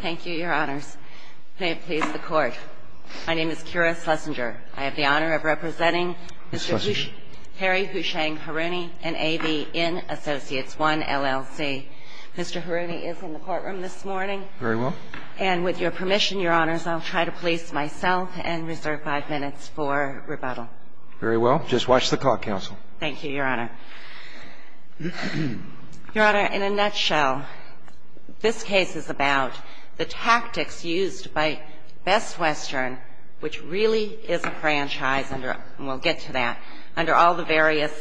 Thank you, your honors. May it please the court. My name is Kira Schlesinger. I have the honor of representing Mr. Harry Houshang Haruni and AV Inn Associates 1, LLC. Mr. Haruni is in the courtroom this morning. Very well. And with your permission, your honors, I'll try to police myself and reserve five minutes for rebuttal. Very well. Just watch the call, counsel. Thank you, your honor. Your honor, in a nutshell, this case is about the tactics used by Best Western, which really is a franchise, and we'll get to that, under all the various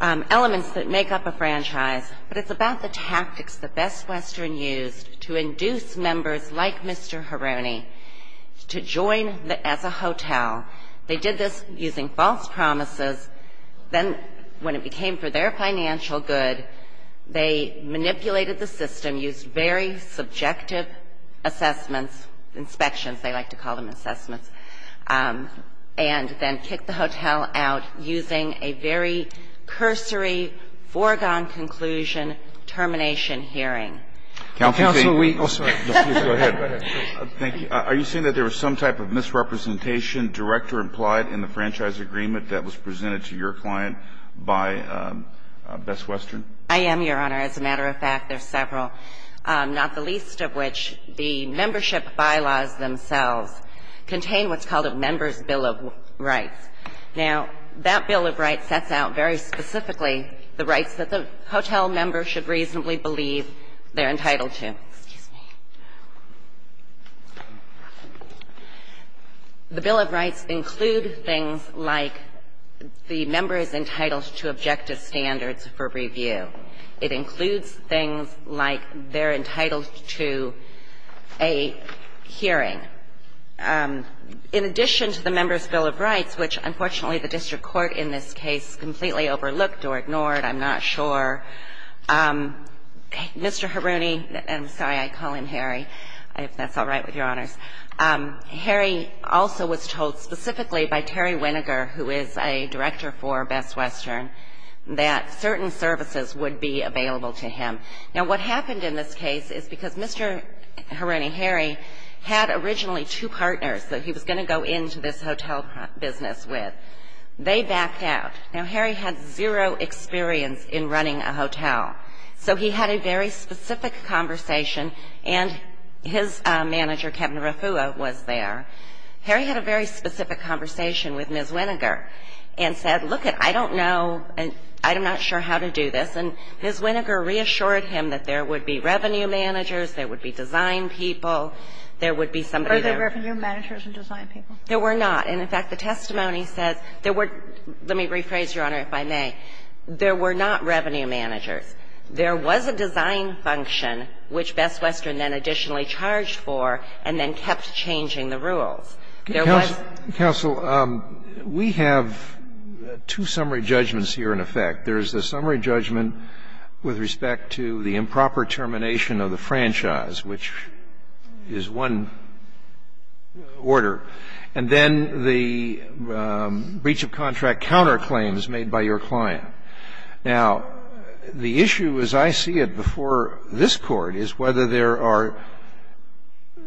elements that make up a franchise. But it's about the tactics that Best Western used to Then, when it became for their financial good, they manipulated the system, used very subjective assessments, inspections, they like to call them assessments, and then kicked the hotel out using a very cursory, foregone conclusion, termination hearing. Counsel, we also go ahead. Thank you. Are you saying that there was some type of misrepresentation director implied in the franchise agreement that was presented to your client by Best Western? I am, your honor. As a matter of fact, there's several, not the least of which the membership bylaws themselves contain what's called a member's bill of rights. Now, that bill of rights sets out very specifically the rights that the hotel member should reasonably believe they're entitled to. Excuse me. The bill of rights include things like the member is entitled to objective standards for review. It includes things like they're entitled to a hearing. In addition to the member's bill of rights, which, unfortunately, the district court in this case completely overlooked or ignored, I'm not sure, Mr. Haruni I'm sorry. I call him Harry, if that's all right with your honors. Harry also was told specifically by Terry Winogar, who is a director for Best Western, that certain services would be available to him. Now, what happened in this case is because Mr. Haruni, Harry, had originally two partners that he was going to go into this hotel business with. They backed out. Now, Harry had a very specific conversation, and his manager, Kevin Refua, was there. Harry had a very specific conversation with Ms. Winogar and said, look it, I don't know, I'm not sure how to do this. And Ms. Winogar reassured him that there would be revenue managers, there would be design people, there would be somebody there. Are there revenue managers and design people? There were not. And, in fact, the testimony says there were – let me rephrase, Your Honor, if I may. There were not revenue managers. There was a design function, which Best Western then additionally charged for, and then kept changing the rules. There was – Counsel, we have two summary judgments here, in effect. There's the summary judgment with respect to the improper termination of the franchise, which is one order, and then the breach of contract counterclaims made by your client. Now, the issue, as I see it, before this Court, is whether there are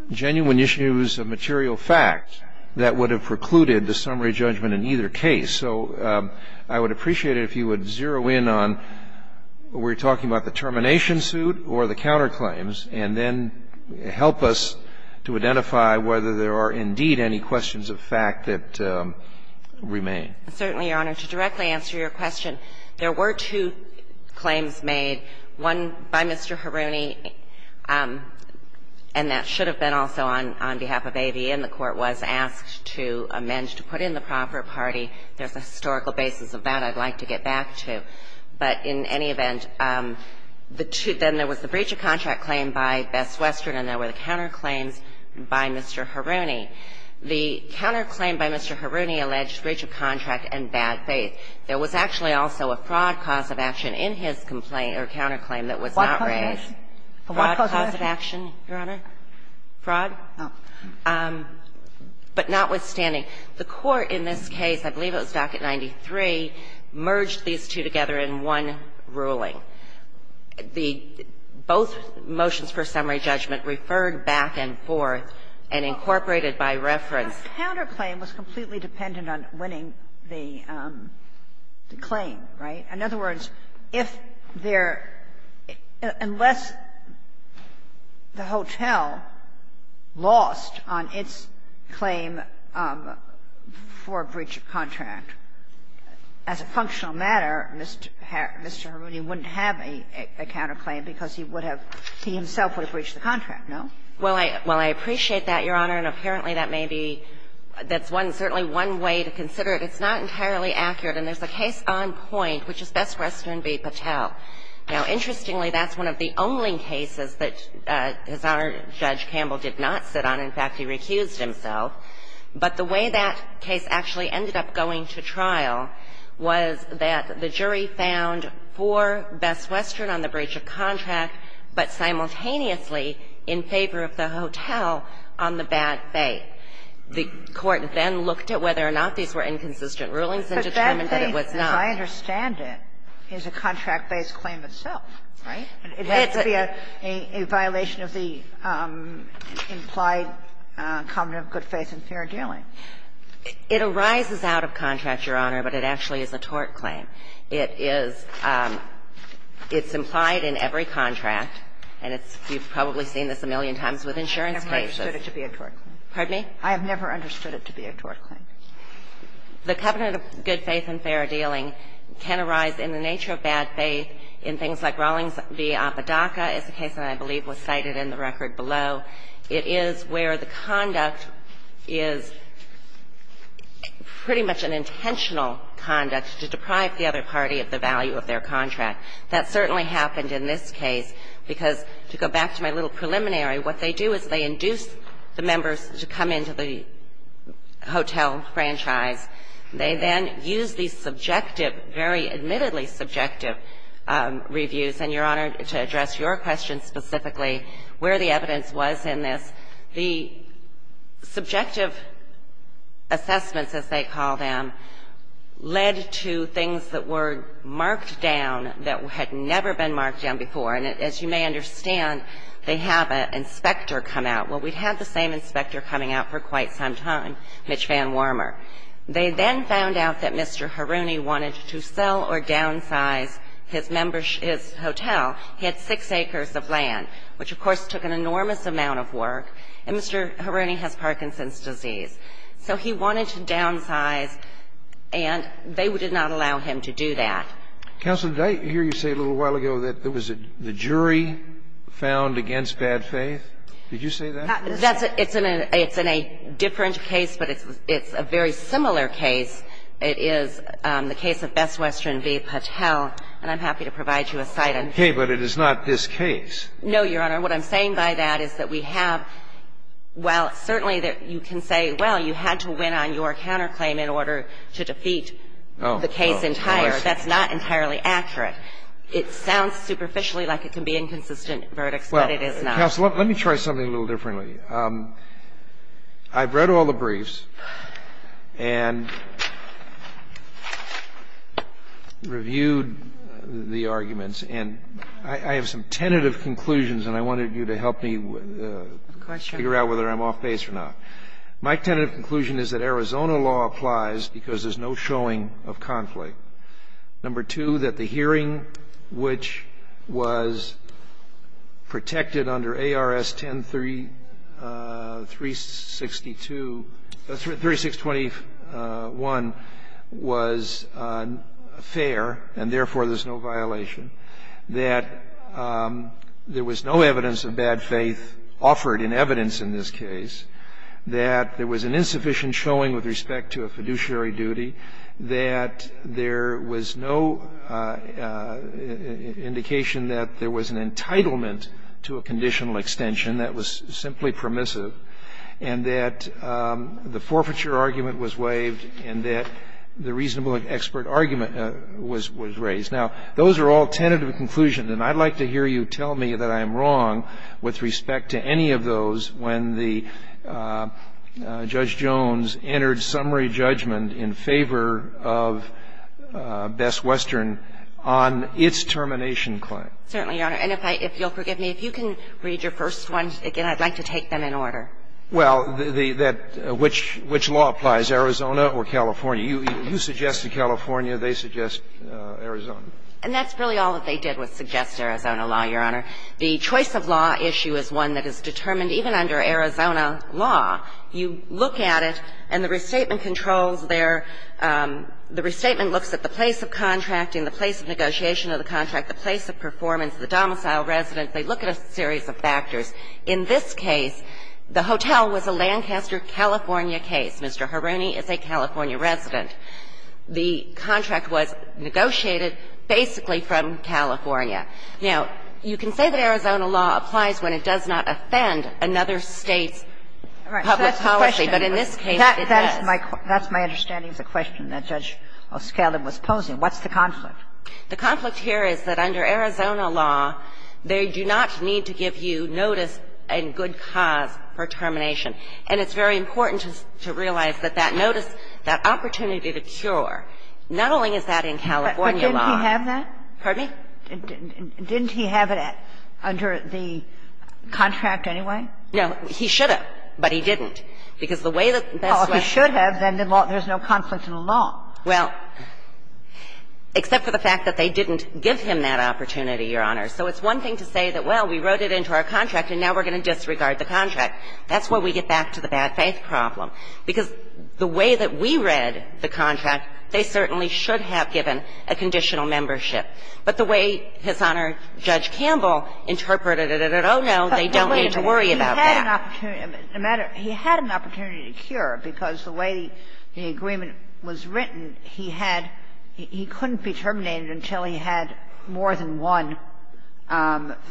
genuine issues of material fact that would have precluded the summary judgment in either case. So I would appreciate it if you would zero in on – we're talking about the termination suit or the counterclaims, and then help us to identify whether there are indeed any questions of fact that remain. Certainly, Your Honor. To directly answer your question, there were two claims made, one by Mr. Haruni, and that should have been also on behalf of AVN. The Court was asked to amend to put in the proper party. There's a historical basis of that I'd like to get back to. But in any event, the two – then there was the breach of contract claim by Best Western, and there were the counterclaims by Mr. Haruni. The counterclaim by Mr. Haruni alleged breach of contract and bad faith. There was actually also a fraud cause of action in his complaint or counterclaim that was not raised. Fraud cause of action, Your Honor? Fraud? But notwithstanding, the Court in this case, I believe it was docket 93, merged these two together in one ruling. The – both motions for summary judgment referred back and forth and incorporated by reference. The counterclaim was completely dependent on winning the claim, right? In other words, if there – unless the hotel lost on its claim for breach of contract, as a functional matter, Mr. Haruni wouldn't have a counterclaim because he would have – he himself would have breached the contract, no? Well, I appreciate that, Your Honor, and apparently that may be – that's one – certainly one way to consider it. It's not entirely accurate. And there's a case on point, which is Best Western v. Patel. Now, interestingly, that's one of the only cases that His Honor, Judge Campbell, did not sit on. In fact, he recused himself. But the way that case actually ended up going to trial was that the jury found four Best Western on the breach of contract, but simultaneously in favor of the hotel on the bad faith. The Court then looked at whether or not these were inconsistent rulings and determined that it was not. But that claim, as I understand it, is a contract-based claim itself, right? It has to be a violation of the implied covenant of good faith and fair dealing. It arises out of contract, Your Honor, but it actually is a tort claim. It is – it's implied in every contract, and it's – you've probably seen this a million times with insurance cases. I've never understood it to be a tort claim. Pardon me? I have never understood it to be a tort claim. The covenant of good faith and fair dealing can arise in the nature of bad faith and fair dealing in things like Rawlings v. Apodaca is a case that I believe was cited in the record below. It is where the conduct is pretty much an intentional conduct to deprive the other party of the value of their contract. That certainly happened in this case, because to go back to my little preliminary, what they do is they induce the members to come into the hotel franchise. They then use these subjective, very admittedly subjective reviews, and Your Honor, to address your question specifically, where the evidence was in this. The subjective assessments, as they call them, led to things that were marked down that had never been marked down before. And as you may understand, they have an inspector come out. Well, we've had the same inspector coming out for quite some time, Mitch Van Warmer. They then found out that Mr. Haruni wanted to sell or downsize his hotel. He had 6 acres of land, which, of course, took an enormous amount of work. And Mr. Haruni has Parkinson's disease. So he wanted to downsize, and they did not allow him to do that. Counsel, did I hear you say a little while ago that it was the jury found against bad faith? Did you say that? It's in a different case, but it's a very similar case. It is the case of Best Western v. Patel, and I'm happy to provide you a cite. Okay, but it is not this case. No, Your Honor. What I'm saying by that is that we have well, certainly you can say, well, you had to win on your counterclaim in order to defeat the case entire. Oh, I see. That's not entirely accurate. It sounds superficially like it can be inconsistent verdicts, but it is not. Counsel, let me try something a little differently. I've read all the briefs and reviewed the arguments, and I have some tentative conclusions, and I wanted you to help me figure out whether I'm off base or not. My tentative conclusion is that Arizona law applies because there's no showing of conflict. Number two, that the hearing, which was protected under ARS 10362 3621, was fair and, therefore, there's no violation, that there was no evidence of bad faith offered in evidence in this case, that there was an insufficient showing with respect to a fiduciary duty, that there was no indication that there was an entitlement to a conditional extension that was simply permissive, and that the forfeiture argument was waived and that the reasonable expert argument was raised. Now, those are all tentative conclusions, and I'd like to hear you tell me that I'm wrong with respect to any of those when the Judge Jones entered summary judgment in favor of Best Western on its termination claim. Certainly, Your Honor. And if I – if you'll forgive me, if you can read your first one again, I'd like to take them in order. Well, the – that – which law applies, Arizona or California? You suggested California, they suggest Arizona. And that's really all that they did was suggest Arizona law, Your Honor. The choice of law issue is one that is determined even under Arizona law. You look at it, and the restatement controls their – the restatement looks at the place of contracting, the place of negotiation of the contract, the place of performance, the domicile resident. They look at a series of factors. In this case, the hotel was a Lancaster, California case. Mr. Haruni is a California resident. The contract was negotiated basically from California. Now, you can say that Arizona law applies when it does not offend another State's public policy, but in this case, it does. That's my – that's my understanding of the question that Judge O'Scallion was posing. What's the conflict? The conflict here is that under Arizona law, they do not need to give you notice and good cause for termination. And it's very important to realize that that notice, that opportunity to cure, not only is that in California law. But didn't he have that? Pardon me? Didn't he have it under the contract anyway? No. He should have, but he didn't, because the way that that's what he should have, then there's no conflict in the law. Well, except for the fact that they didn't give him that opportunity, Your Honor. So it's one thing to say that, well, we wrote it into our contract and now we're going to disregard the contract. That's where we get back to the bad faith problem, because the way that we read the contract, they certainly should have given a conditional membership. But the way His Honor, Judge Campbell, interpreted it at Ohno, they don't need to worry about that. But wait a minute. He had an opportunity to cure, because the way the agreement was written, he had he couldn't be terminated until he had more than one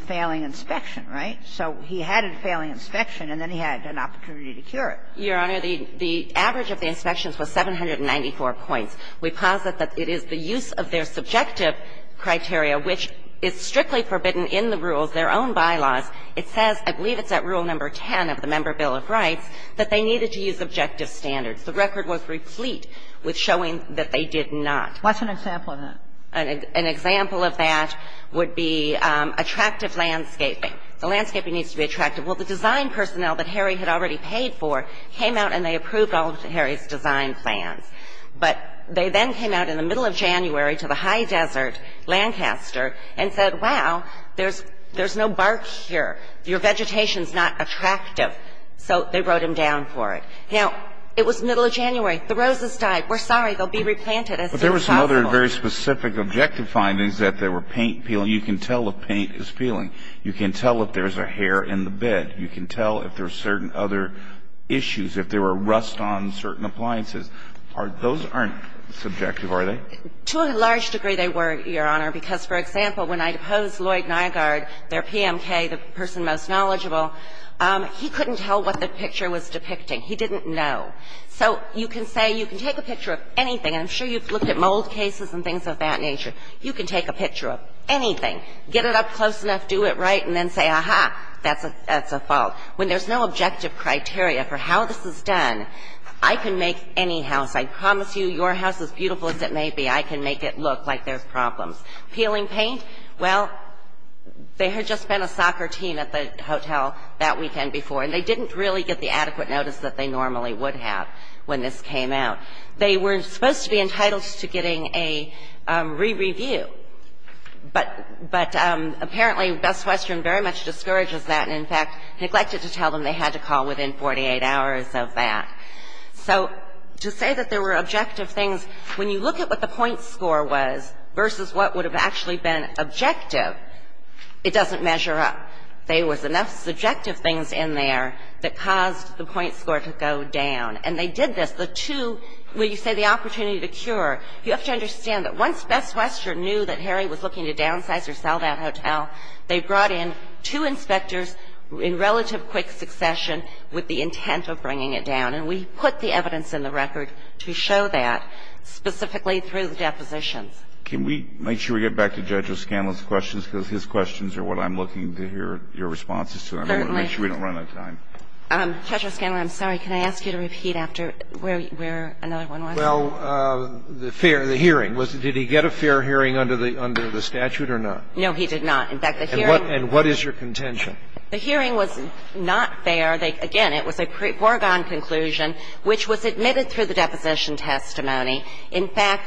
failing inspection, right? So he had a failing inspection and then he had an opportunity to cure it. Your Honor, the average of the inspections was 794 points. We posit that it is the use of their subjective criteria, which is strictly forbidden in the rules, their own bylaws. It says, I believe it's at Rule No. 10 of the Member Bill of Rights, that they needed to use objective standards. The record was replete with showing that they did not. What's an example of that? An example of that would be attractive landscaping. The landscaping needs to be attractive. Well, the design personnel that Harry had already paid for came out and they approved all of Harry's design plans. But they then came out in the middle of January to the high desert, Lancaster, and said, wow, there's no bark here. Your vegetation's not attractive. So they wrote him down for it. Now, it was middle of January. The roses died. We're sorry. They'll be replanted as soon as possible. But there were some other very specific objective findings that there were paint peeling. You can tell if paint is peeling. You can tell if there's a hair in the bed. You can tell if there's certain other issues, if there were rust on certain appliances. Those aren't subjective, are they? To a large degree, they were, Your Honor, because, for example, when I'd oppose Lloyd Nygaard, their PMK, the person most knowledgeable, he couldn't tell what the picture was depicting. He didn't know. So you can say you can take a picture of anything. I'm sure you've looked at mold cases and things of that nature. You can take a picture of anything, get it up close enough, do it right, and then say, aha, that's a fault. When there's no objective criteria for how this is done, I can make any house, I promise you, your house, as beautiful as it may be, I can make it look like there's problems. Peeling paint? Well, there had just been a soccer team at the hotel that weekend before, and they didn't really get the adequate notice that they normally would have when this came out. They were supposed to be entitled to getting a re-review, but apparently Best Western very much discourages that, and in fact neglected to tell them they had to call within 48 hours of that. So to say that there were objective things, when you look at what the point score was versus what would have actually been objective, it doesn't measure up. There was enough subjective things in there that caused the point score to go down. And they did this. The two, where you say the opportunity to cure, you have to understand that once Best Western knew that Harry was looking to downsize or sell that hotel, they brought in two inspectors in relative quick succession with the intent of bringing it down. And we put the evidence in the record to show that, specifically through the depositions. Can we make sure we get back to Judge O'Scanlan's questions, because his questions are what I'm looking to hear your responses to. I want to make sure we don't run out of time. Judge O'Scanlan, I'm sorry. Can I ask you to repeat after where another one was? Well, the fair the hearing. Did he get a fair hearing under the statute or not? No, he did not. In fact, the hearing And what is your contention? The hearing was not fair. Again, it was a foregone conclusion, which was admitted through the deposition testimony. In fact,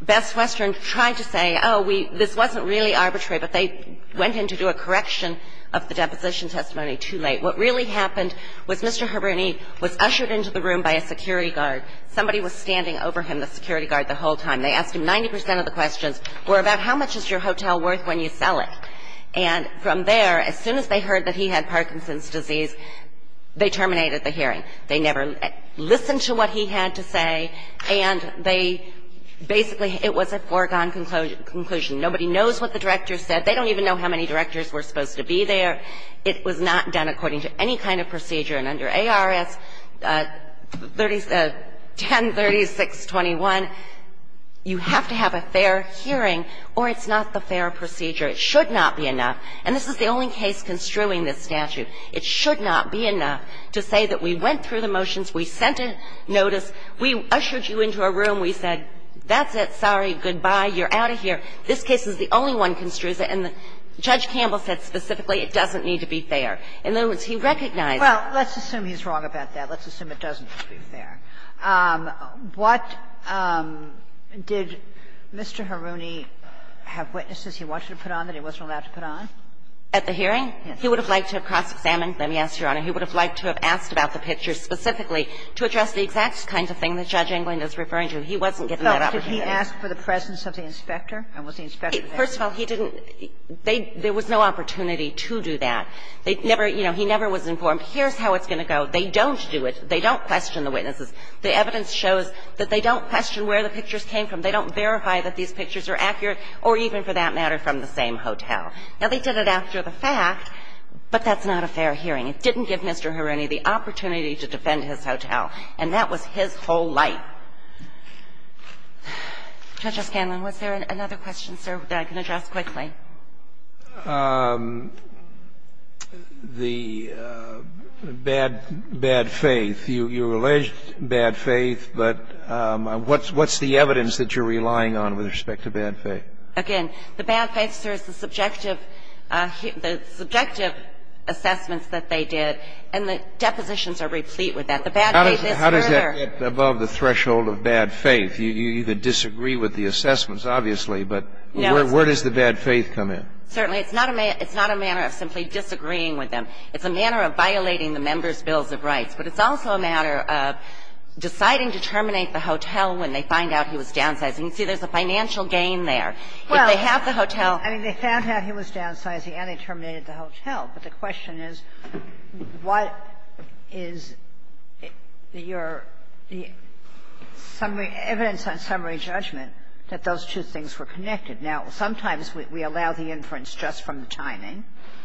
Best Western tried to say, oh, we this wasn't really arbitrary, but they went in to do a correction of the deposition testimony too late. What really happened was Mr. Haruni was ushered into the room by a security guard. Somebody was standing over him, the security guard, the whole time. They asked him 90 percent of the questions were about how much is your hotel worth when you sell it. And from there, as soon as they heard that he had Parkinson's disease, they terminated the hearing. They never listened to what he had to say, and they basically it was a foregone conclusion. Nobody knows what the director said. They don't even know how many directors were supposed to be there. It was not done according to any kind of procedure. And under ARS 103621, you have to have a fair hearing or it's not the fair procedure. It should not be enough, and this is the only case construing this statute. It should not be enough to say that we went through the motions, we sent a notice, we ushered you into a room, we said that's it, sorry, goodbye, you're out of here. This case is the only one construes it, and Judge Campbell said specifically it doesn't need to be fair. In other words, he recognized that. Kagan. Kagan. Kagan. Kagan. Kagan. Kagan. Kagan. Kagan. Kagan. Kagan. Kagan. Kagan. Kagan. This is the first time that it was allowed to put on. Kagan. Kagan. Kagan. Kagan. Justice Sotomayor, did he request the pictures to be put on that he wasn't allowed to put on? At the hearing? He would have liked to have cross-examined them, yes, Your Honor. He would have liked to have asked about the pictures specifically to address the exact kinds of thing that Judge Inglen is referring to. He wasn't given that opportunity. So, did he ask for the presence of the inspector? And was the inspector there? First of all, he didn't. There was no opportunity to do that. They never, you know, he never was informed, here's how it's going to go. They don't do it. They don't question the witnesses. The evidence shows that they don't question where the pictures came from. They don't verify that these pictures are accurate or even, for that matter, from the same hotel. Now, they did it after the fact, but that's not a fair hearing. It didn't give Mr. Hironi the opportunity to defend his hotel, and that was his whole life. Judge O'Scanlan, was there another question, sir, that I can address quickly? The bad faith. You alleged bad faith, but what's the evidence that you're relying on with respect to bad faith? Again, the bad faith serves the subjective assessments that they did, and the depositions are replete with that. The bad faith is further. How does that get above the threshold of bad faith? You either disagree with the assessments, obviously, but where does the bad faith come in? Certainly, it's not a manner of simply disagreeing with them. It's a manner of violating the member's bills of rights. But it's also a matter of deciding to terminate the hotel when they find out he was downsizing. You see, there's a financial gain there. If they have the hotel — Well, I mean, they found out he was downsizing and they terminated the hotel. But the question is, what is your summary — evidence on summary judgment that those two things were connected? Now, sometimes we allow the inference just from the timing.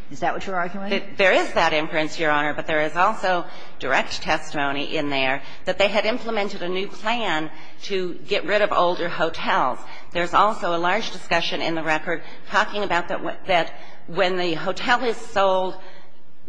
Is that what you're arguing? There is that inference, Your Honor, but there is also direct testimony in there that they had implemented a new plan to get rid of older hotels. There's also a large discussion in the record talking about that when the hotel is sold,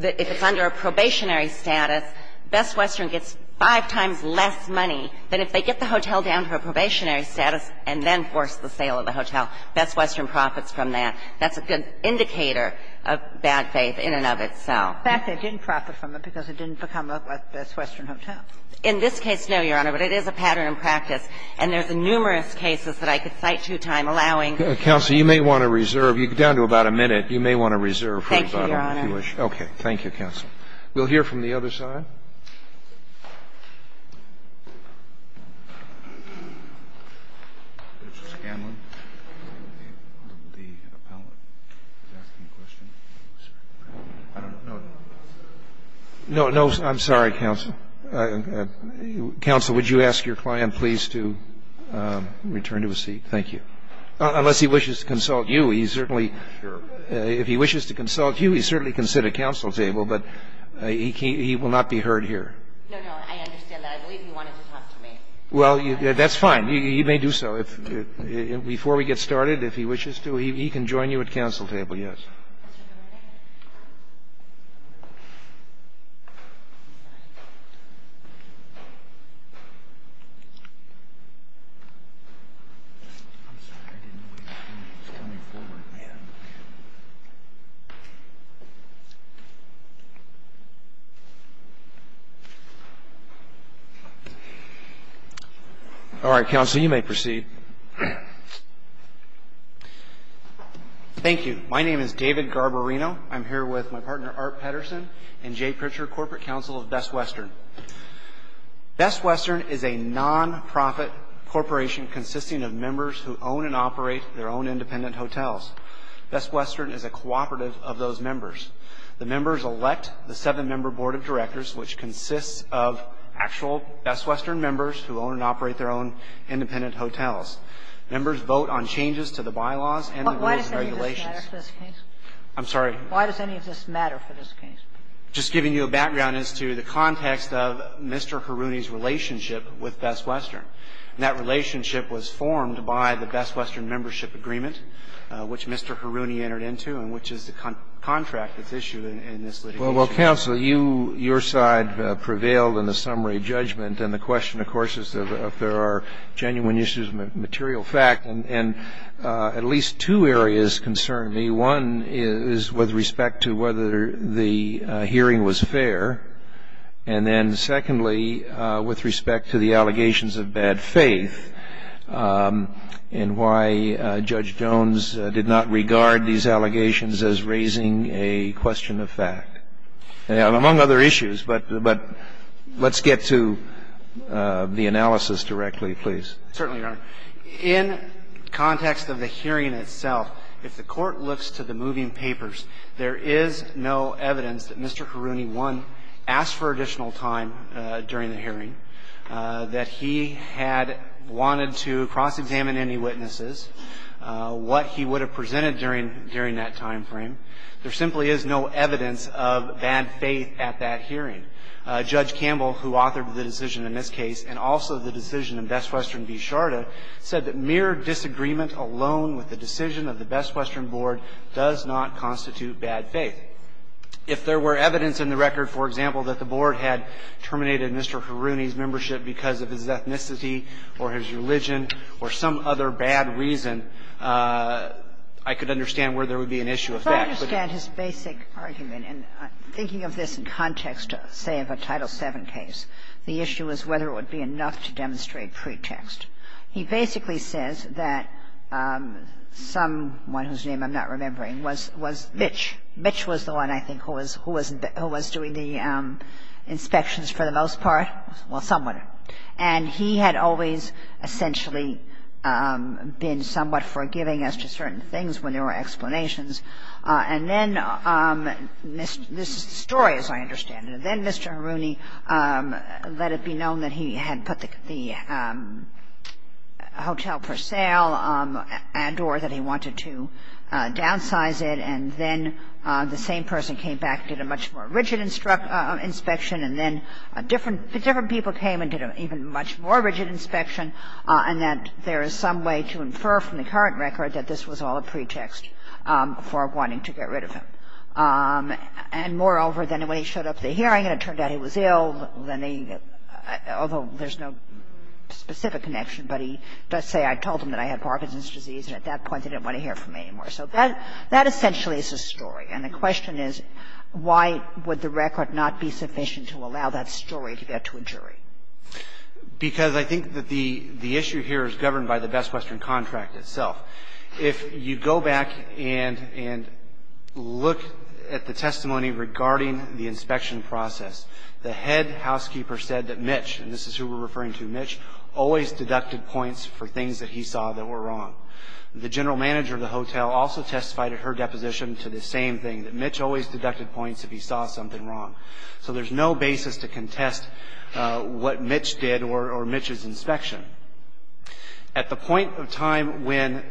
if it's under a probationary status, Best Western gets five times less money than if they get the hotel down to a probationary status and then force the sale of the hotel. Best Western profits from that. That's a good indicator of bad faith in and of itself. In fact, they didn't profit from it because it didn't become a Best Western hotel. In this case, no, Your Honor, but it is a pattern in practice. And there's numerous cases that I could cite to you, time allowing. Counsel, you may want to reserve. You're down to about a minute. You may want to reserve for about a minute if you wish. Thank you, Your Honor. Okay. Thank you, counsel. We'll hear from the other side. Mr. Scanlon, the appellant is asking a question. I don't know. No, I'm sorry, counsel. Counsel, would you ask your client, please, to return to his seat? Thank you. Unless he wishes to consult you. He certainly, if he wishes to consult you, he certainly can sit at counsel's table, but he will not be heard here. No, no, I understand that. I believe he wanted to talk to me. Well, that's fine. He may do so. Before we get started, if he wishes to, he can join you at counsel table, yes. All right, counsel, you may proceed. Thank you. My name is David Garbarino. I'm here with my partner, Art Pedersen, and Jay Pritchard, corporate counsel of Best Western. Best Western is a nonprofit corporation consisting of members who own and operate their own independent hotels. Best Western is a cooperative of those members. The members elect the seven-member board of directors, which consists of actual Best Western members who own and operate their own independent hotels. Members vote on changes to the bylaws and the rules and regulations. I'm sorry. Why does any of this matter for this case? Just giving you a background as to the context of Mr. Haruni's relationship with Best Western. That relationship was formed by the Best Western membership agreement, which Mr. Haruni entered into, and which is the contract that's issued in this litigation. Well, counsel, you, your side prevailed in the summary judgment, and the question, of course, is if there are genuine issues of material fact. And at least two areas concern me. One is with respect to whether the hearing was fair, and then, secondly, with respect to the allegations of bad faith and why Judge Jones did not regard these allegations as raising a question of fact, among other issues. But let's get to the analysis directly, please. Certainly, Your Honor. In context of the hearing itself, if the Court looks to the moving papers, there is no evidence that Mr. Haruni, one, asked for additional time during the hearing, that he had wanted to cross-examine any witnesses, what he would have presented during that time frame. There simply is no evidence of bad faith at that hearing. Judge Campbell, who authored the decision in this case and also the decision in Best Western v. Sharda, said that mere disagreement alone with the decision of the Best Western Board does not constitute bad faith. If there were evidence in the record, for example, that the Board had terminated Mr. Haruni's membership because of his ethnicity or his religion or some other bad reason, I could understand where there would be an issue of fact. I could understand his basic argument. And thinking of this in context, say, of a Title VII case, the issue is whether it would be enough to demonstrate pretext. He basically says that someone whose name I'm not remembering was Mitch. Mitch was the one, I think, who was doing the inspections for the most part, well, someone. And he had always essentially been somewhat forgiving as to certain things when there were explanations. And then this story, as I understand it, and then Mr. Haruni let it be known that he had put the hotel for sale and or that he wanted to downsize it. And then the same person came back, did a much more rigid inspection. And then different people came and did an even much more rigid inspection. And that there is some way to infer from the current record that this was all a pretext for wanting to get rid of him. And moreover, then when he showed up to the hearing and it turned out he was ill, then they – although there's no specific connection, but he does say, I told him that I had Parkinson's disease, and at that point they didn't want to hear from me anymore. So that essentially is a story. And the question is, why would the record not be sufficient to allow that story to get to a jury? Because I think that the issue here is governed by the Best Question contract itself. If you go back and look at the testimony regarding the inspection process, the head housekeeper said that Mitch, and this is who we're referring to, Mitch, always deducted points for things that he saw that were wrong. The general manager of the hotel also testified at her deposition to the same thing, that Mitch always deducted points if he saw something wrong. So there's no basis to contest what Mitch did or Mitch's inspection. At the point of time when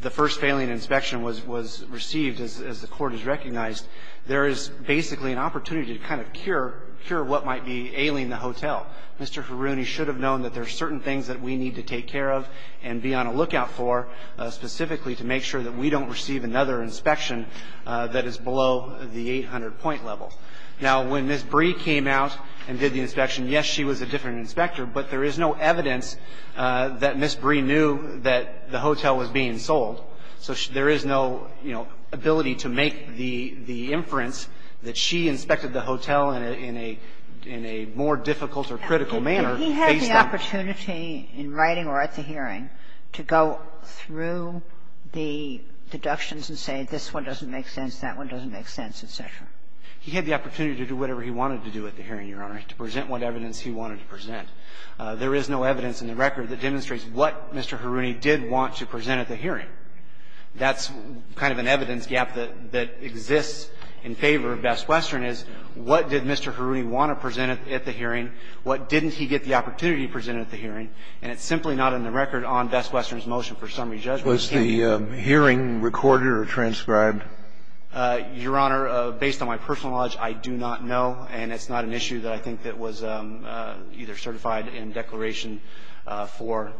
the first failing inspection was received, as the court has recognized, there is basically an opportunity to kind of cure what might be ailing the hotel. Mr. Haruni should have known that there are certain things that we need to take care of and be on a lookout for, specifically to make sure that we don't receive another inspection that is below the 800-point level. Now, when Ms. Bree came out and did the inspection, yes, she was a different inspector, but there is no evidence that Ms. Bree knew that the hotel was being sold. So there is no, you know, ability to make the inference that she inspected the hotel in a more difficult or critical manner. He had the opportunity in writing or at the hearing to go through the deductions and say, this one doesn't make sense, that one doesn't make sense, et cetera. He had the opportunity to do whatever he wanted to do at the hearing, Your Honor, to present what evidence he wanted to present. There is no evidence in the record that demonstrates what Mr. Haruni did want to present at the hearing. That's kind of an evidence gap that exists in favor of Best Western is what did Mr. Haruni want to present at the hearing, what didn't he get the opportunity to present at the hearing, and it's simply not in the record on Best Western's motion for summary judgment. Kennedy. Kennedy. Kennedy. Was the hearing recorded or transcribed? Your Honor, based on my personal knowledge, I do not know, and it's not an issue that I think that was either certified in declaration for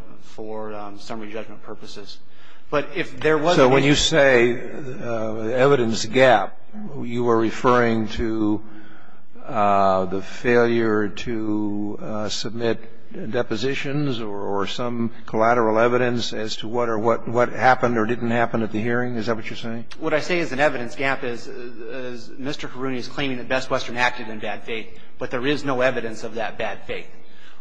summary judgment purposes. But if there was an evidence gap. So when you say evidence gap, you are referring to the failure to submit depositions or some collateral evidence as to what happened or didn't happen at the hearing? Is that what you're saying? What I say is an evidence gap is Mr. Haruni is claiming that Best Western acted in bad faith, but there is no evidence of that bad faith.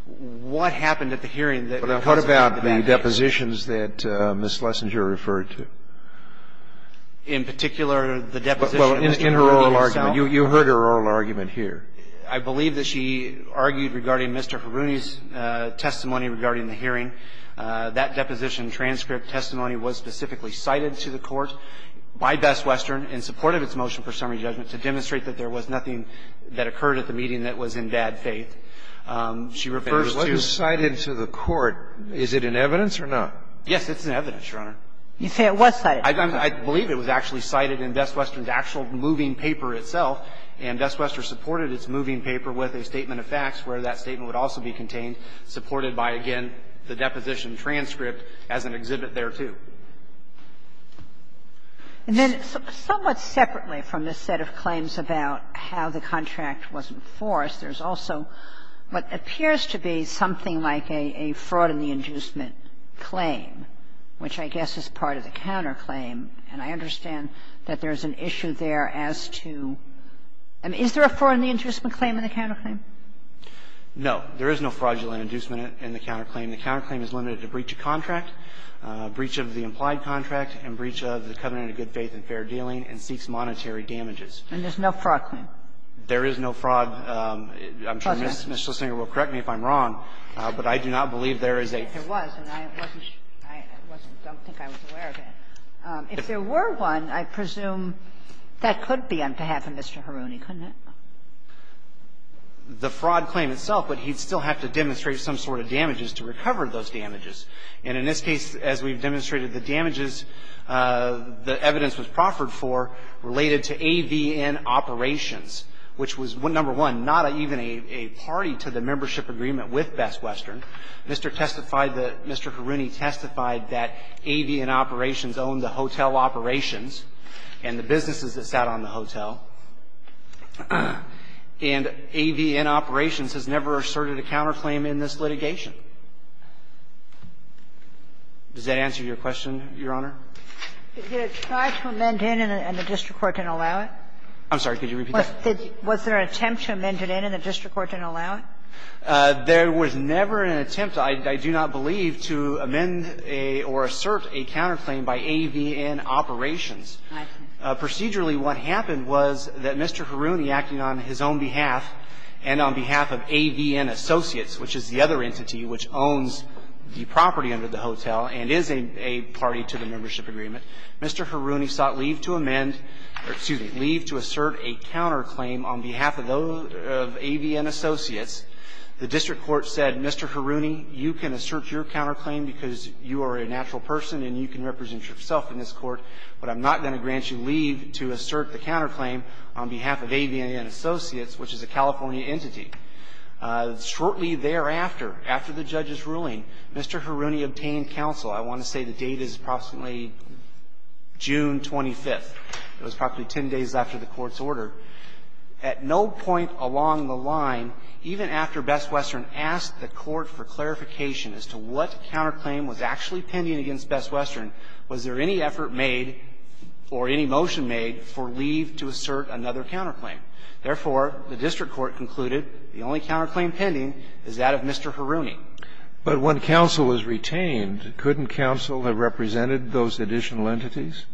What happened at the hearing that wasn't in the bad faith? But what about the depositions that Ms. Lessinger referred to? In particular, the deposition in Haruni itself? Well, in her oral argument. You heard her oral argument here. I believe that she argued regarding Mr. Haruni's testimony regarding the hearing. That deposition transcript testimony was specifically cited to the Court by Best Western in support of its motion for summary judgment to demonstrate that there was nothing that occurred at the meeting that was in bad faith. She refers to the court. But it wasn't cited to the court. Is it in evidence or not? Yes, it's in evidence, Your Honor. You say it was cited. I believe it was actually cited in Best Western's actual moving paper itself. And Best Western supported its moving paper with a statement of facts where that statement would also be contained, supported by, again, the deposition transcript as an exhibit thereto. And then somewhat separately from this set of claims about how the contract wasn't forced, there's also what appears to be something like a fraud in the inducement claim, which I guess is part of the counterclaim. And I understand that there's an issue there as to – I mean, is there a fraud in the inducement claim in the counterclaim? No. There is no fraudulent inducement in the counterclaim. The counterclaim is limited to breach of contract. Breach of the implied contract and breach of the covenant of good faith and fair dealing and seeks monetary damages. And there's no fraud claim? There is no fraud. I'm sure Ms. Schlesinger will correct me if I'm wrong, but I do not believe there is a – If there was, and I wasn't – I wasn't – I don't think I was aware of it. If there were one, I presume that could be on behalf of Mr. Haruni, couldn't it? The fraud claim itself, but he'd still have to demonstrate some sort of damages to recover those damages. And in this case, as we've demonstrated, the damages, the evidence was proffered for related to AVN Operations, which was, number one, not even a party to the membership agreement with Best Western. Mr. testified that – Mr. Haruni testified that AVN Operations owned the hotel operations and the businesses that sat on the hotel. And AVN Operations has never asserted a counterclaim in this litigation. Does that answer your question, Your Honor? Did it try to amend in and the district court didn't allow it? I'm sorry, could you repeat that? Was there an attempt to amend it in and the district court didn't allow it? There was never an attempt, I do not believe, to amend or assert a counterclaim by AVN Operations. Procedurally, what happened was that Mr. Haruni, acting on his own behalf and on behalf of AVN Associates, which is the other entity which owns the property under the hotel and is a party to the membership agreement, Mr. Haruni sought leave to amend – or, excuse me, leave to assert a counterclaim on behalf of those – of AVN Associates. The district court said, Mr. Haruni, you can assert your counterclaim because you are a natural person and you can represent yourself in this court, but I'm not going to grant you leave to assert the counterclaim on behalf of AVN Associates, which is a property under the hotel and is a party to the membership agreement. Shortly thereafter, after the judge's ruling, Mr. Haruni obtained counsel. I want to say the date is approximately June 25th. It was probably ten days after the Court's order. At no point along the line, even after Best Western asked the Court for clarification as to what counterclaim was actually pending against Best Western, was there any effort made or any motion made for leave to assert another counterclaim. Therefore, the district court concluded the only counterclaim pending is that of Mr. Haruni. But when counsel was retained, couldn't counsel have represented those additional entities?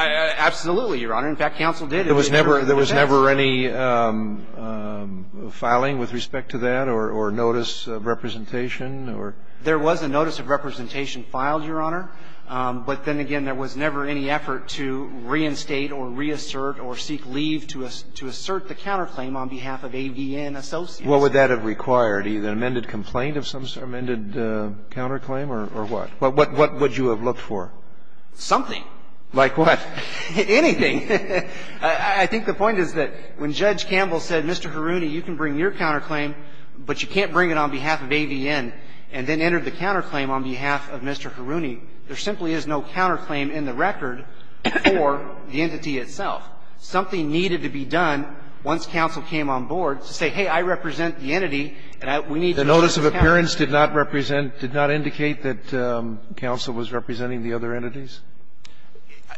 Absolutely, Your Honor. In fact, counsel did. There was never any filing with respect to that or notice of representation or? There was a notice of representation filed, Your Honor. But then again, there was never any effort to reinstate or reassert or seek leave to assert the counterclaim on behalf of AVN Associates. What would that have required? Either an amended complaint of some sort, amended counterclaim, or what? What would you have looked for? Something. Like what? Anything. I think the point is that when Judge Campbell said, Mr. Haruni, you can bring your counterclaim, but you can't bring it on behalf of AVN, and then entered the counterclaim on behalf of Mr. Haruni, there simply is no counterclaim in the record for the entity itself. Something needed to be done once counsel came on board to say, hey, I represent the entity, and we need to make a counterclaim. The notice of appearance did not represent, did not indicate that counsel was representing the other entities?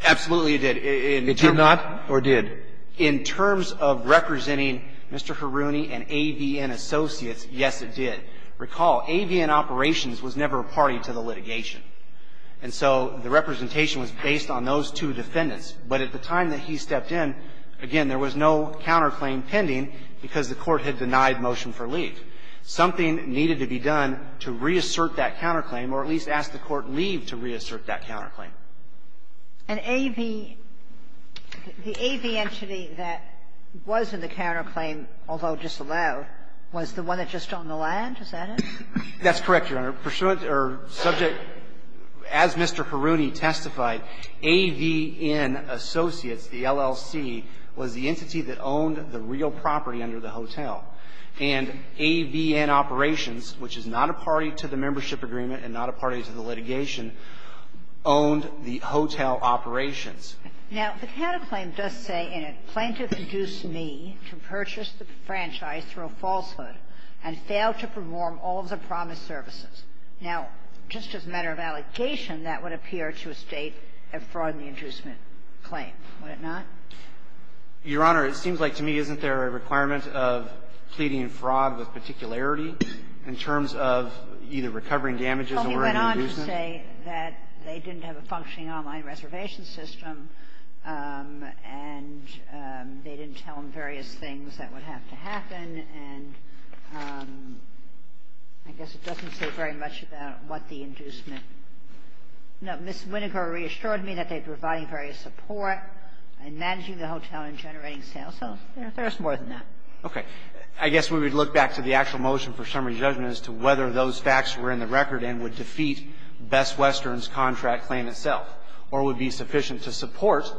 Absolutely, it did. It did not or did? In terms of representing Mr. Haruni and AVN Associates, yes, it did. Recall, AVN Operations was never a party to the litigation. And so the representation was based on those two defendants. But at the time that he stepped in, again, there was no counterclaim pending because the Court had denied motion for leave. Something needed to be done to reassert that counterclaim, or at least ask the Court to leave to reassert that counterclaim. And AV the AV entity that was in the counterclaim, although disallowed, was the one that just owned the land, is that it? That's correct, Your Honor. Pursuant or subject, as Mr. Haruni testified, AVN Associates, the LLC, was the entity that owned the real property under the hotel. And AVN Operations, which is not a party to the membership agreement and not a party to the litigation, owned the hotel operations. Now, the counterclaim does say, in it, Plaintiff induced me to purchase the franchise through a falsehood and failed to perform all of the promised services. Now, just as a matter of allocation, that would appear to a State of fraud in the inducement claim, would it not? Your Honor, it seems like to me, isn't there a requirement of pleading fraud with particularity in terms of either recovering damages or an inducement? Well, he went on to say that they didn't have a functioning online reservation system, and they didn't tell him various things that would have to happen. And I guess it doesn't say very much about what the inducement – no, Ms. Winokur reassured me that they provided various support in managing the hotel and generating sales. So, you know, there's more than that. Okay. I guess we would look back to the actual motion for summary judgment as to whether those facts were in the record and would defeat Best Western's contract claim itself or would be sufficient to support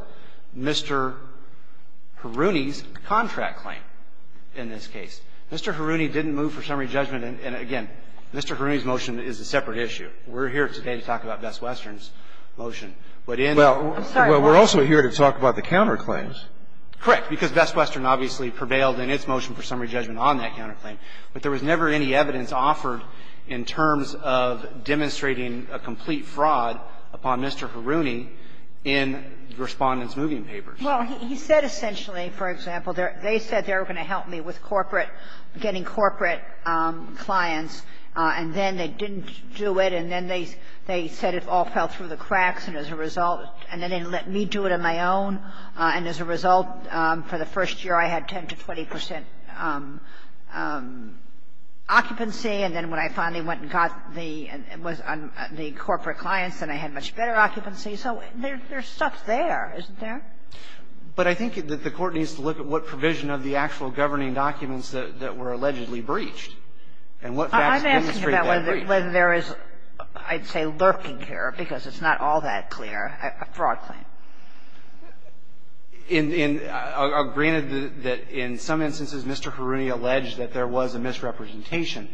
Mr. Haruni's contract claim in this case. Mr. Haruni didn't move for summary judgment. And, again, Mr. Haruni's motion is a separate issue. We're here today to talk about Best Western's motion. But in the – Well, we're also here to talk about the counterclaims. Correct. Because Best Western obviously prevailed in its motion for summary judgment on that counterclaim. But there was never any evidence offered in terms of demonstrating a complete fraud upon Mr. Haruni in the Respondent's moving papers. Well, he said essentially, for example, they said they were going to help me with corporate – getting corporate clients, and then they didn't do it, and then they said it all fell through the cracks, and as a result – and then they let me do it on my own. And as a result, for the first year I had 10 to 20 percent occupancy. And then when I finally went and got the – was on the corporate clients, then I had much better occupancy. So there's stuff there, isn't there? But I think that the Court needs to look at what provision of the actual governing documents that were allegedly breached and what facts demonstrate that breach. I'm asking about whether there is, I'd say, lurking here, because it's not all that clear, a fraud claim. In – granted that in some instances Mr. Haruni alleged that there was a misrepresentation.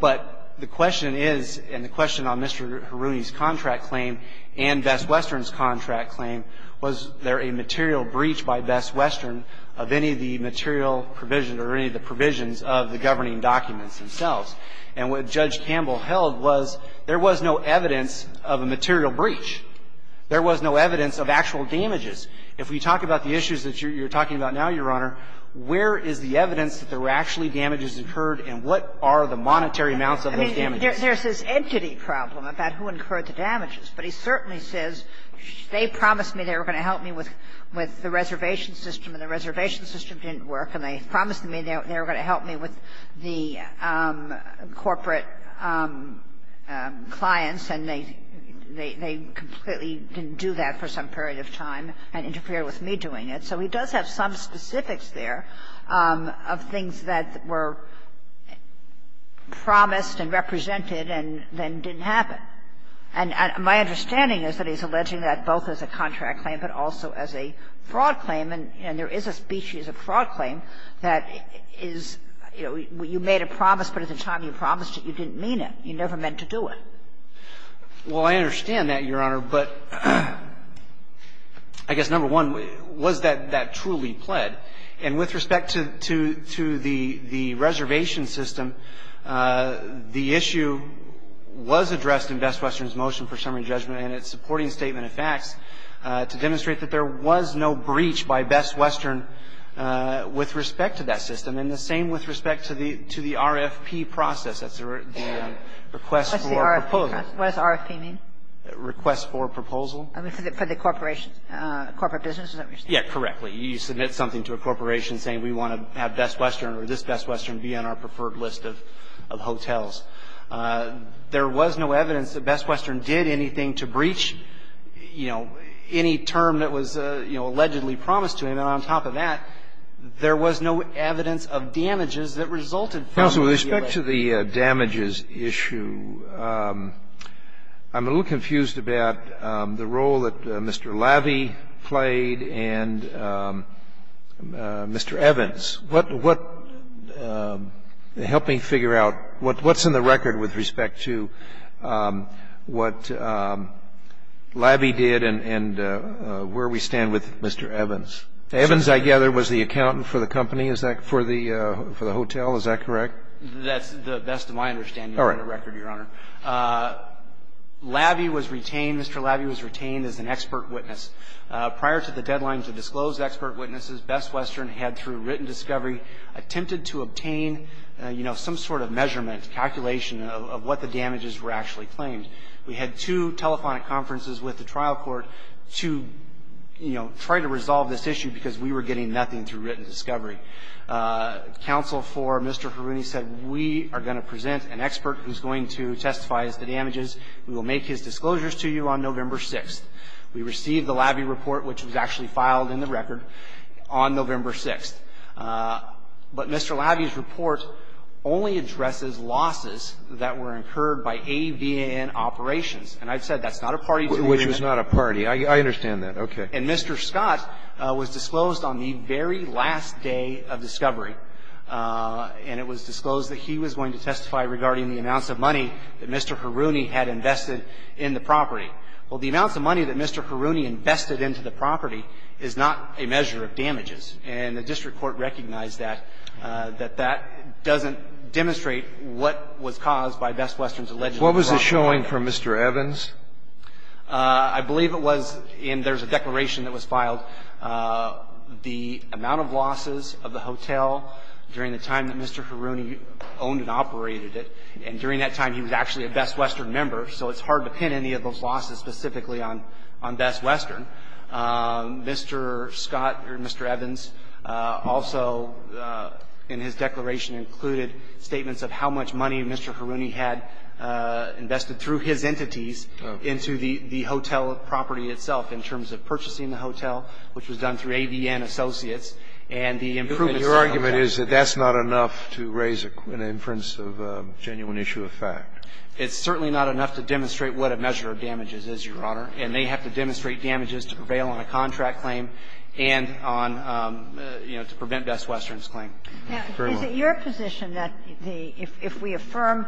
But the question is, and the question on Mr. Haruni's contract claim and Bess Western's contract claim, was there a material breach by Bess Western of any of the material provision or any of the provisions of the governing documents themselves. And what Judge Campbell held was there was no evidence of a material breach. There was no evidence of actual damages. If we talk about the issues that you're talking about now, Your Honor, where is the monetary amounts of those damages? There's this entity problem about who incurred the damages. But he certainly says, they promised me they were going to help me with the reservation system, and the reservation system didn't work, and they promised me they were going to help me with the corporate clients, and they completely didn't do that for some period of time and interfered with me doing it. And so he does have some specifics there of things that were promised and represented and then didn't happen. And my understanding is that he's alleging that both as a contract claim, but also as a fraud claim. And there is a species of fraud claim that is, you know, you made a promise, but at the time you promised it, you didn't mean it. You never meant to do it. Well, I understand that, Your Honor, but I guess, number one, was that that truly pled? And with respect to the reservation system, the issue was addressed in Best Western's motion for summary judgment and its supporting statement of facts to demonstrate that there was no breach by Best Western with respect to that system, and the same with respect to the RFP process. That's the request for a proposal. What does RFP mean? Request for proposal. I mean, for the corporation, corporate business, is that what you're saying? Yeah, correctly. You submit something to a corporation saying we want to have Best Western or this Best Western be on our preferred list of hotels. There was no evidence that Best Western did anything to breach, you know, any term that was, you know, allegedly promised to him. And on top of that, there was no evidence of damages that resulted from the deal. Counsel, with respect to the damages issue, I'm a little confused about the role that Mr. Lavey played and Mr. Evans. What helped me figure out what's in the record with respect to what Lavey did and where we stand with Mr. Evans. Evans, I gather, was the accountant for the company, is that correct, for the hotel, is that correct? That's the best of my understanding of the record, Your Honor. Lavey was retained, Mr. Lavey was retained as an expert witness. Prior to the deadline to disclose expert witnesses, Best Western had, through written discovery, attempted to obtain, you know, some sort of measurement, calculation of what the damages were actually claimed. We had two telephonic conferences with the trial court to, you know, try to resolve this issue because we were getting nothing through written discovery. Counsel for Mr. Haruni said, we are going to present an expert who's going to testify as to the damages, we will make his disclosures to you on November 6th. We received the Lavey report, which was actually filed in the record, on November 6th. But Mr. Lavey's report only addresses losses that were incurred by AVN operations. And I've said that's not a party to the agreement. Which was not a party. I understand that. Okay. And Mr. Scott was disclosed on the very last day of discovery. And it was disclosed that he was going to testify regarding the amounts of money that Mr. Haruni had invested in the property. Well, the amounts of money that Mr. Haruni invested into the property is not a measure of damages. And the district court recognized that, that that doesn't demonstrate what was caused by Best Western's alleged improperty. What was it showing for Mr. Evans? I believe it was in the declaration that was filed, the amount of losses of the hotel during the time that Mr. Haruni owned and operated it. And during that time, he was actually a Best Western member, so it's hard to pin any of those losses specifically on Best Western. Mr. Scott, or Mr. Evans, also in his declaration included statements of how much money Mr. Haruni had invested through his entities into the hotel property itself in terms of purchasing the hotel, which was done through ADN Associates, and the improvement settlement. But your argument is that that's not enough to raise an inference of a genuine issue of fact. It's certainly not enough to demonstrate what a measure of damages is, Your Honor. And they have to demonstrate damages to prevail on a contract claim and on, you know, to prevent Best Western's claim. Very much. Is it your position that the – if we affirm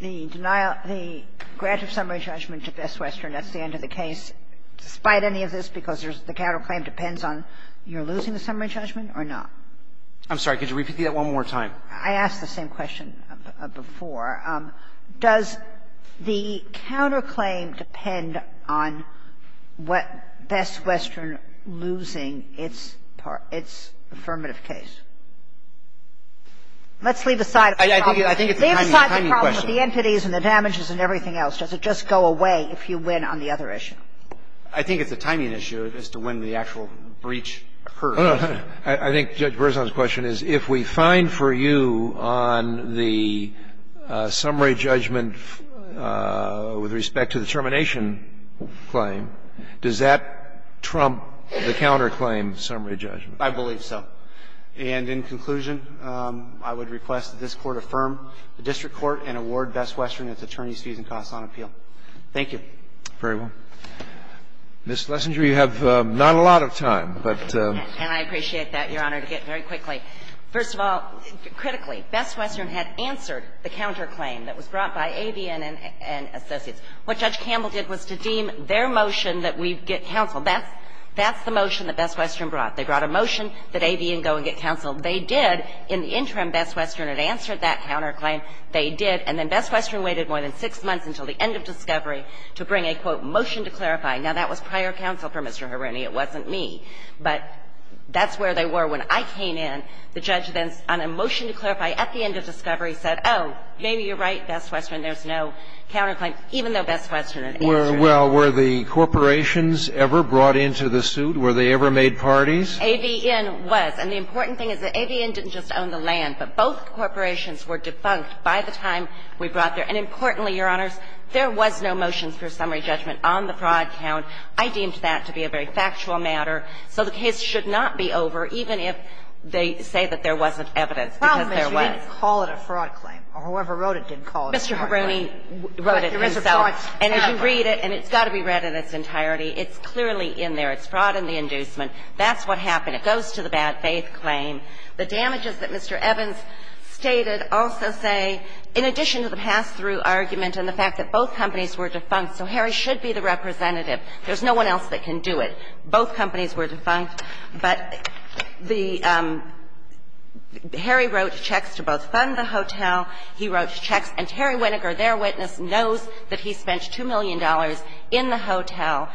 the denial – the grant of summary judgment to Best Western, that's the end of the case, despite any of this, because there's the counterclaim depends on you're losing the summary judgment or not? I'm sorry. Could you repeat that one more time? I asked the same question before. Does the counterclaim depend on what Best Western losing its part – its affirmative case? Let's leave aside the problem. I think it's a timing question. Leave aside the problem of the entities and the damages and everything else. Does it just go away if you win on the other issue? I think it's a timing issue as to when the actual breach occurs. I think Judge Berzon's question is, if we find for you on the summary judgment with respect to the termination claim, does that trump the counterclaim summary judgment? I believe so. And in conclusion, I would request that this Court affirm the district court and award Best Western its attorneys' fees and costs on appeal. Thank you. Very well. Ms. Lessinger, you have not a lot of time, but – And I appreciate that, Your Honor, to get very quickly. First of all, critically, Best Western had answered the counterclaim that was brought by AVN and Associates. What Judge Campbell did was to deem their motion that we get counsel. That's the motion that Best Western brought. They brought a motion that AVN go and get counsel. They did, in the interim, Best Western had answered that counterclaim. They did. And then Best Western waited more than six months until the end of discovery to bring a, quote, motion to clarify. Now, that was prior counsel for Mr. Harini. It wasn't me. But that's where they were. When I came in, the judge then, on a motion to clarify at the end of discovery, said, oh, maybe you're right, Best Western, there's no counterclaim, even though Best Western had answered it. Well, were the corporations ever brought into the suit? Were they ever made parties? AVN was. And the important thing is that AVN didn't just own the land, but both corporations were defunct by the time we brought their own. And importantly, Your Honors, there was no motions for summary judgment on the fraud count. I deemed that to be a very factual matter. So the case should not be over, even if they say that there wasn't evidence, because there was. The problem is you didn't call it a fraud claim, or whoever wrote it didn't call it a fraud claim. Mr. Harini wrote it himself. But there is a fraud claim. And if you read it, and it's got to be read in its entirety, it's clearly in there. It's fraud in the inducement. That's what happened. It goes to the bad faith claim. The damages that Mr. Evans stated also say, in addition to the pass-through argument and the fact that both companies were defunct, so Harry should be the representative. There's no one else that can do it. Both companies were defunct. But the – Harry wrote checks to both fund the hotel. He wrote checks. And Terry Winograd, their witness, knows that he spent $2 million in the hotel.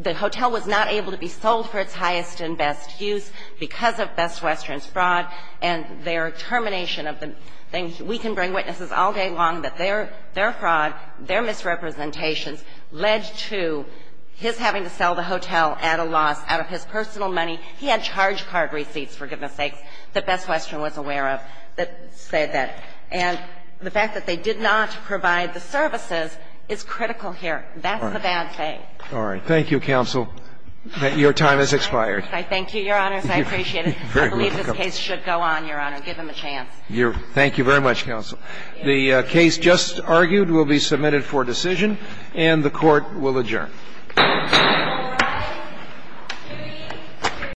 The hotel was not able to be sold for its highest and best use because of Best Western's fraud and their termination of the thing. We can bring witnesses all day long that their fraud, their misrepresentations led to his having to sell the hotel at a loss out of his personal money. He had charge card receipts, for goodness' sakes, that Best Western was aware of that said that. And the fact that they did not provide the services is critical here. That's the bad thing. All right. Thank you, Counsel. Your time has expired. I thank you, Your Honors. I appreciate it. I believe this case should go on, Your Honor. Give him a chance. Thank you very much, Counsel. The case just argued will be submitted for decision, and the Court will adjourn.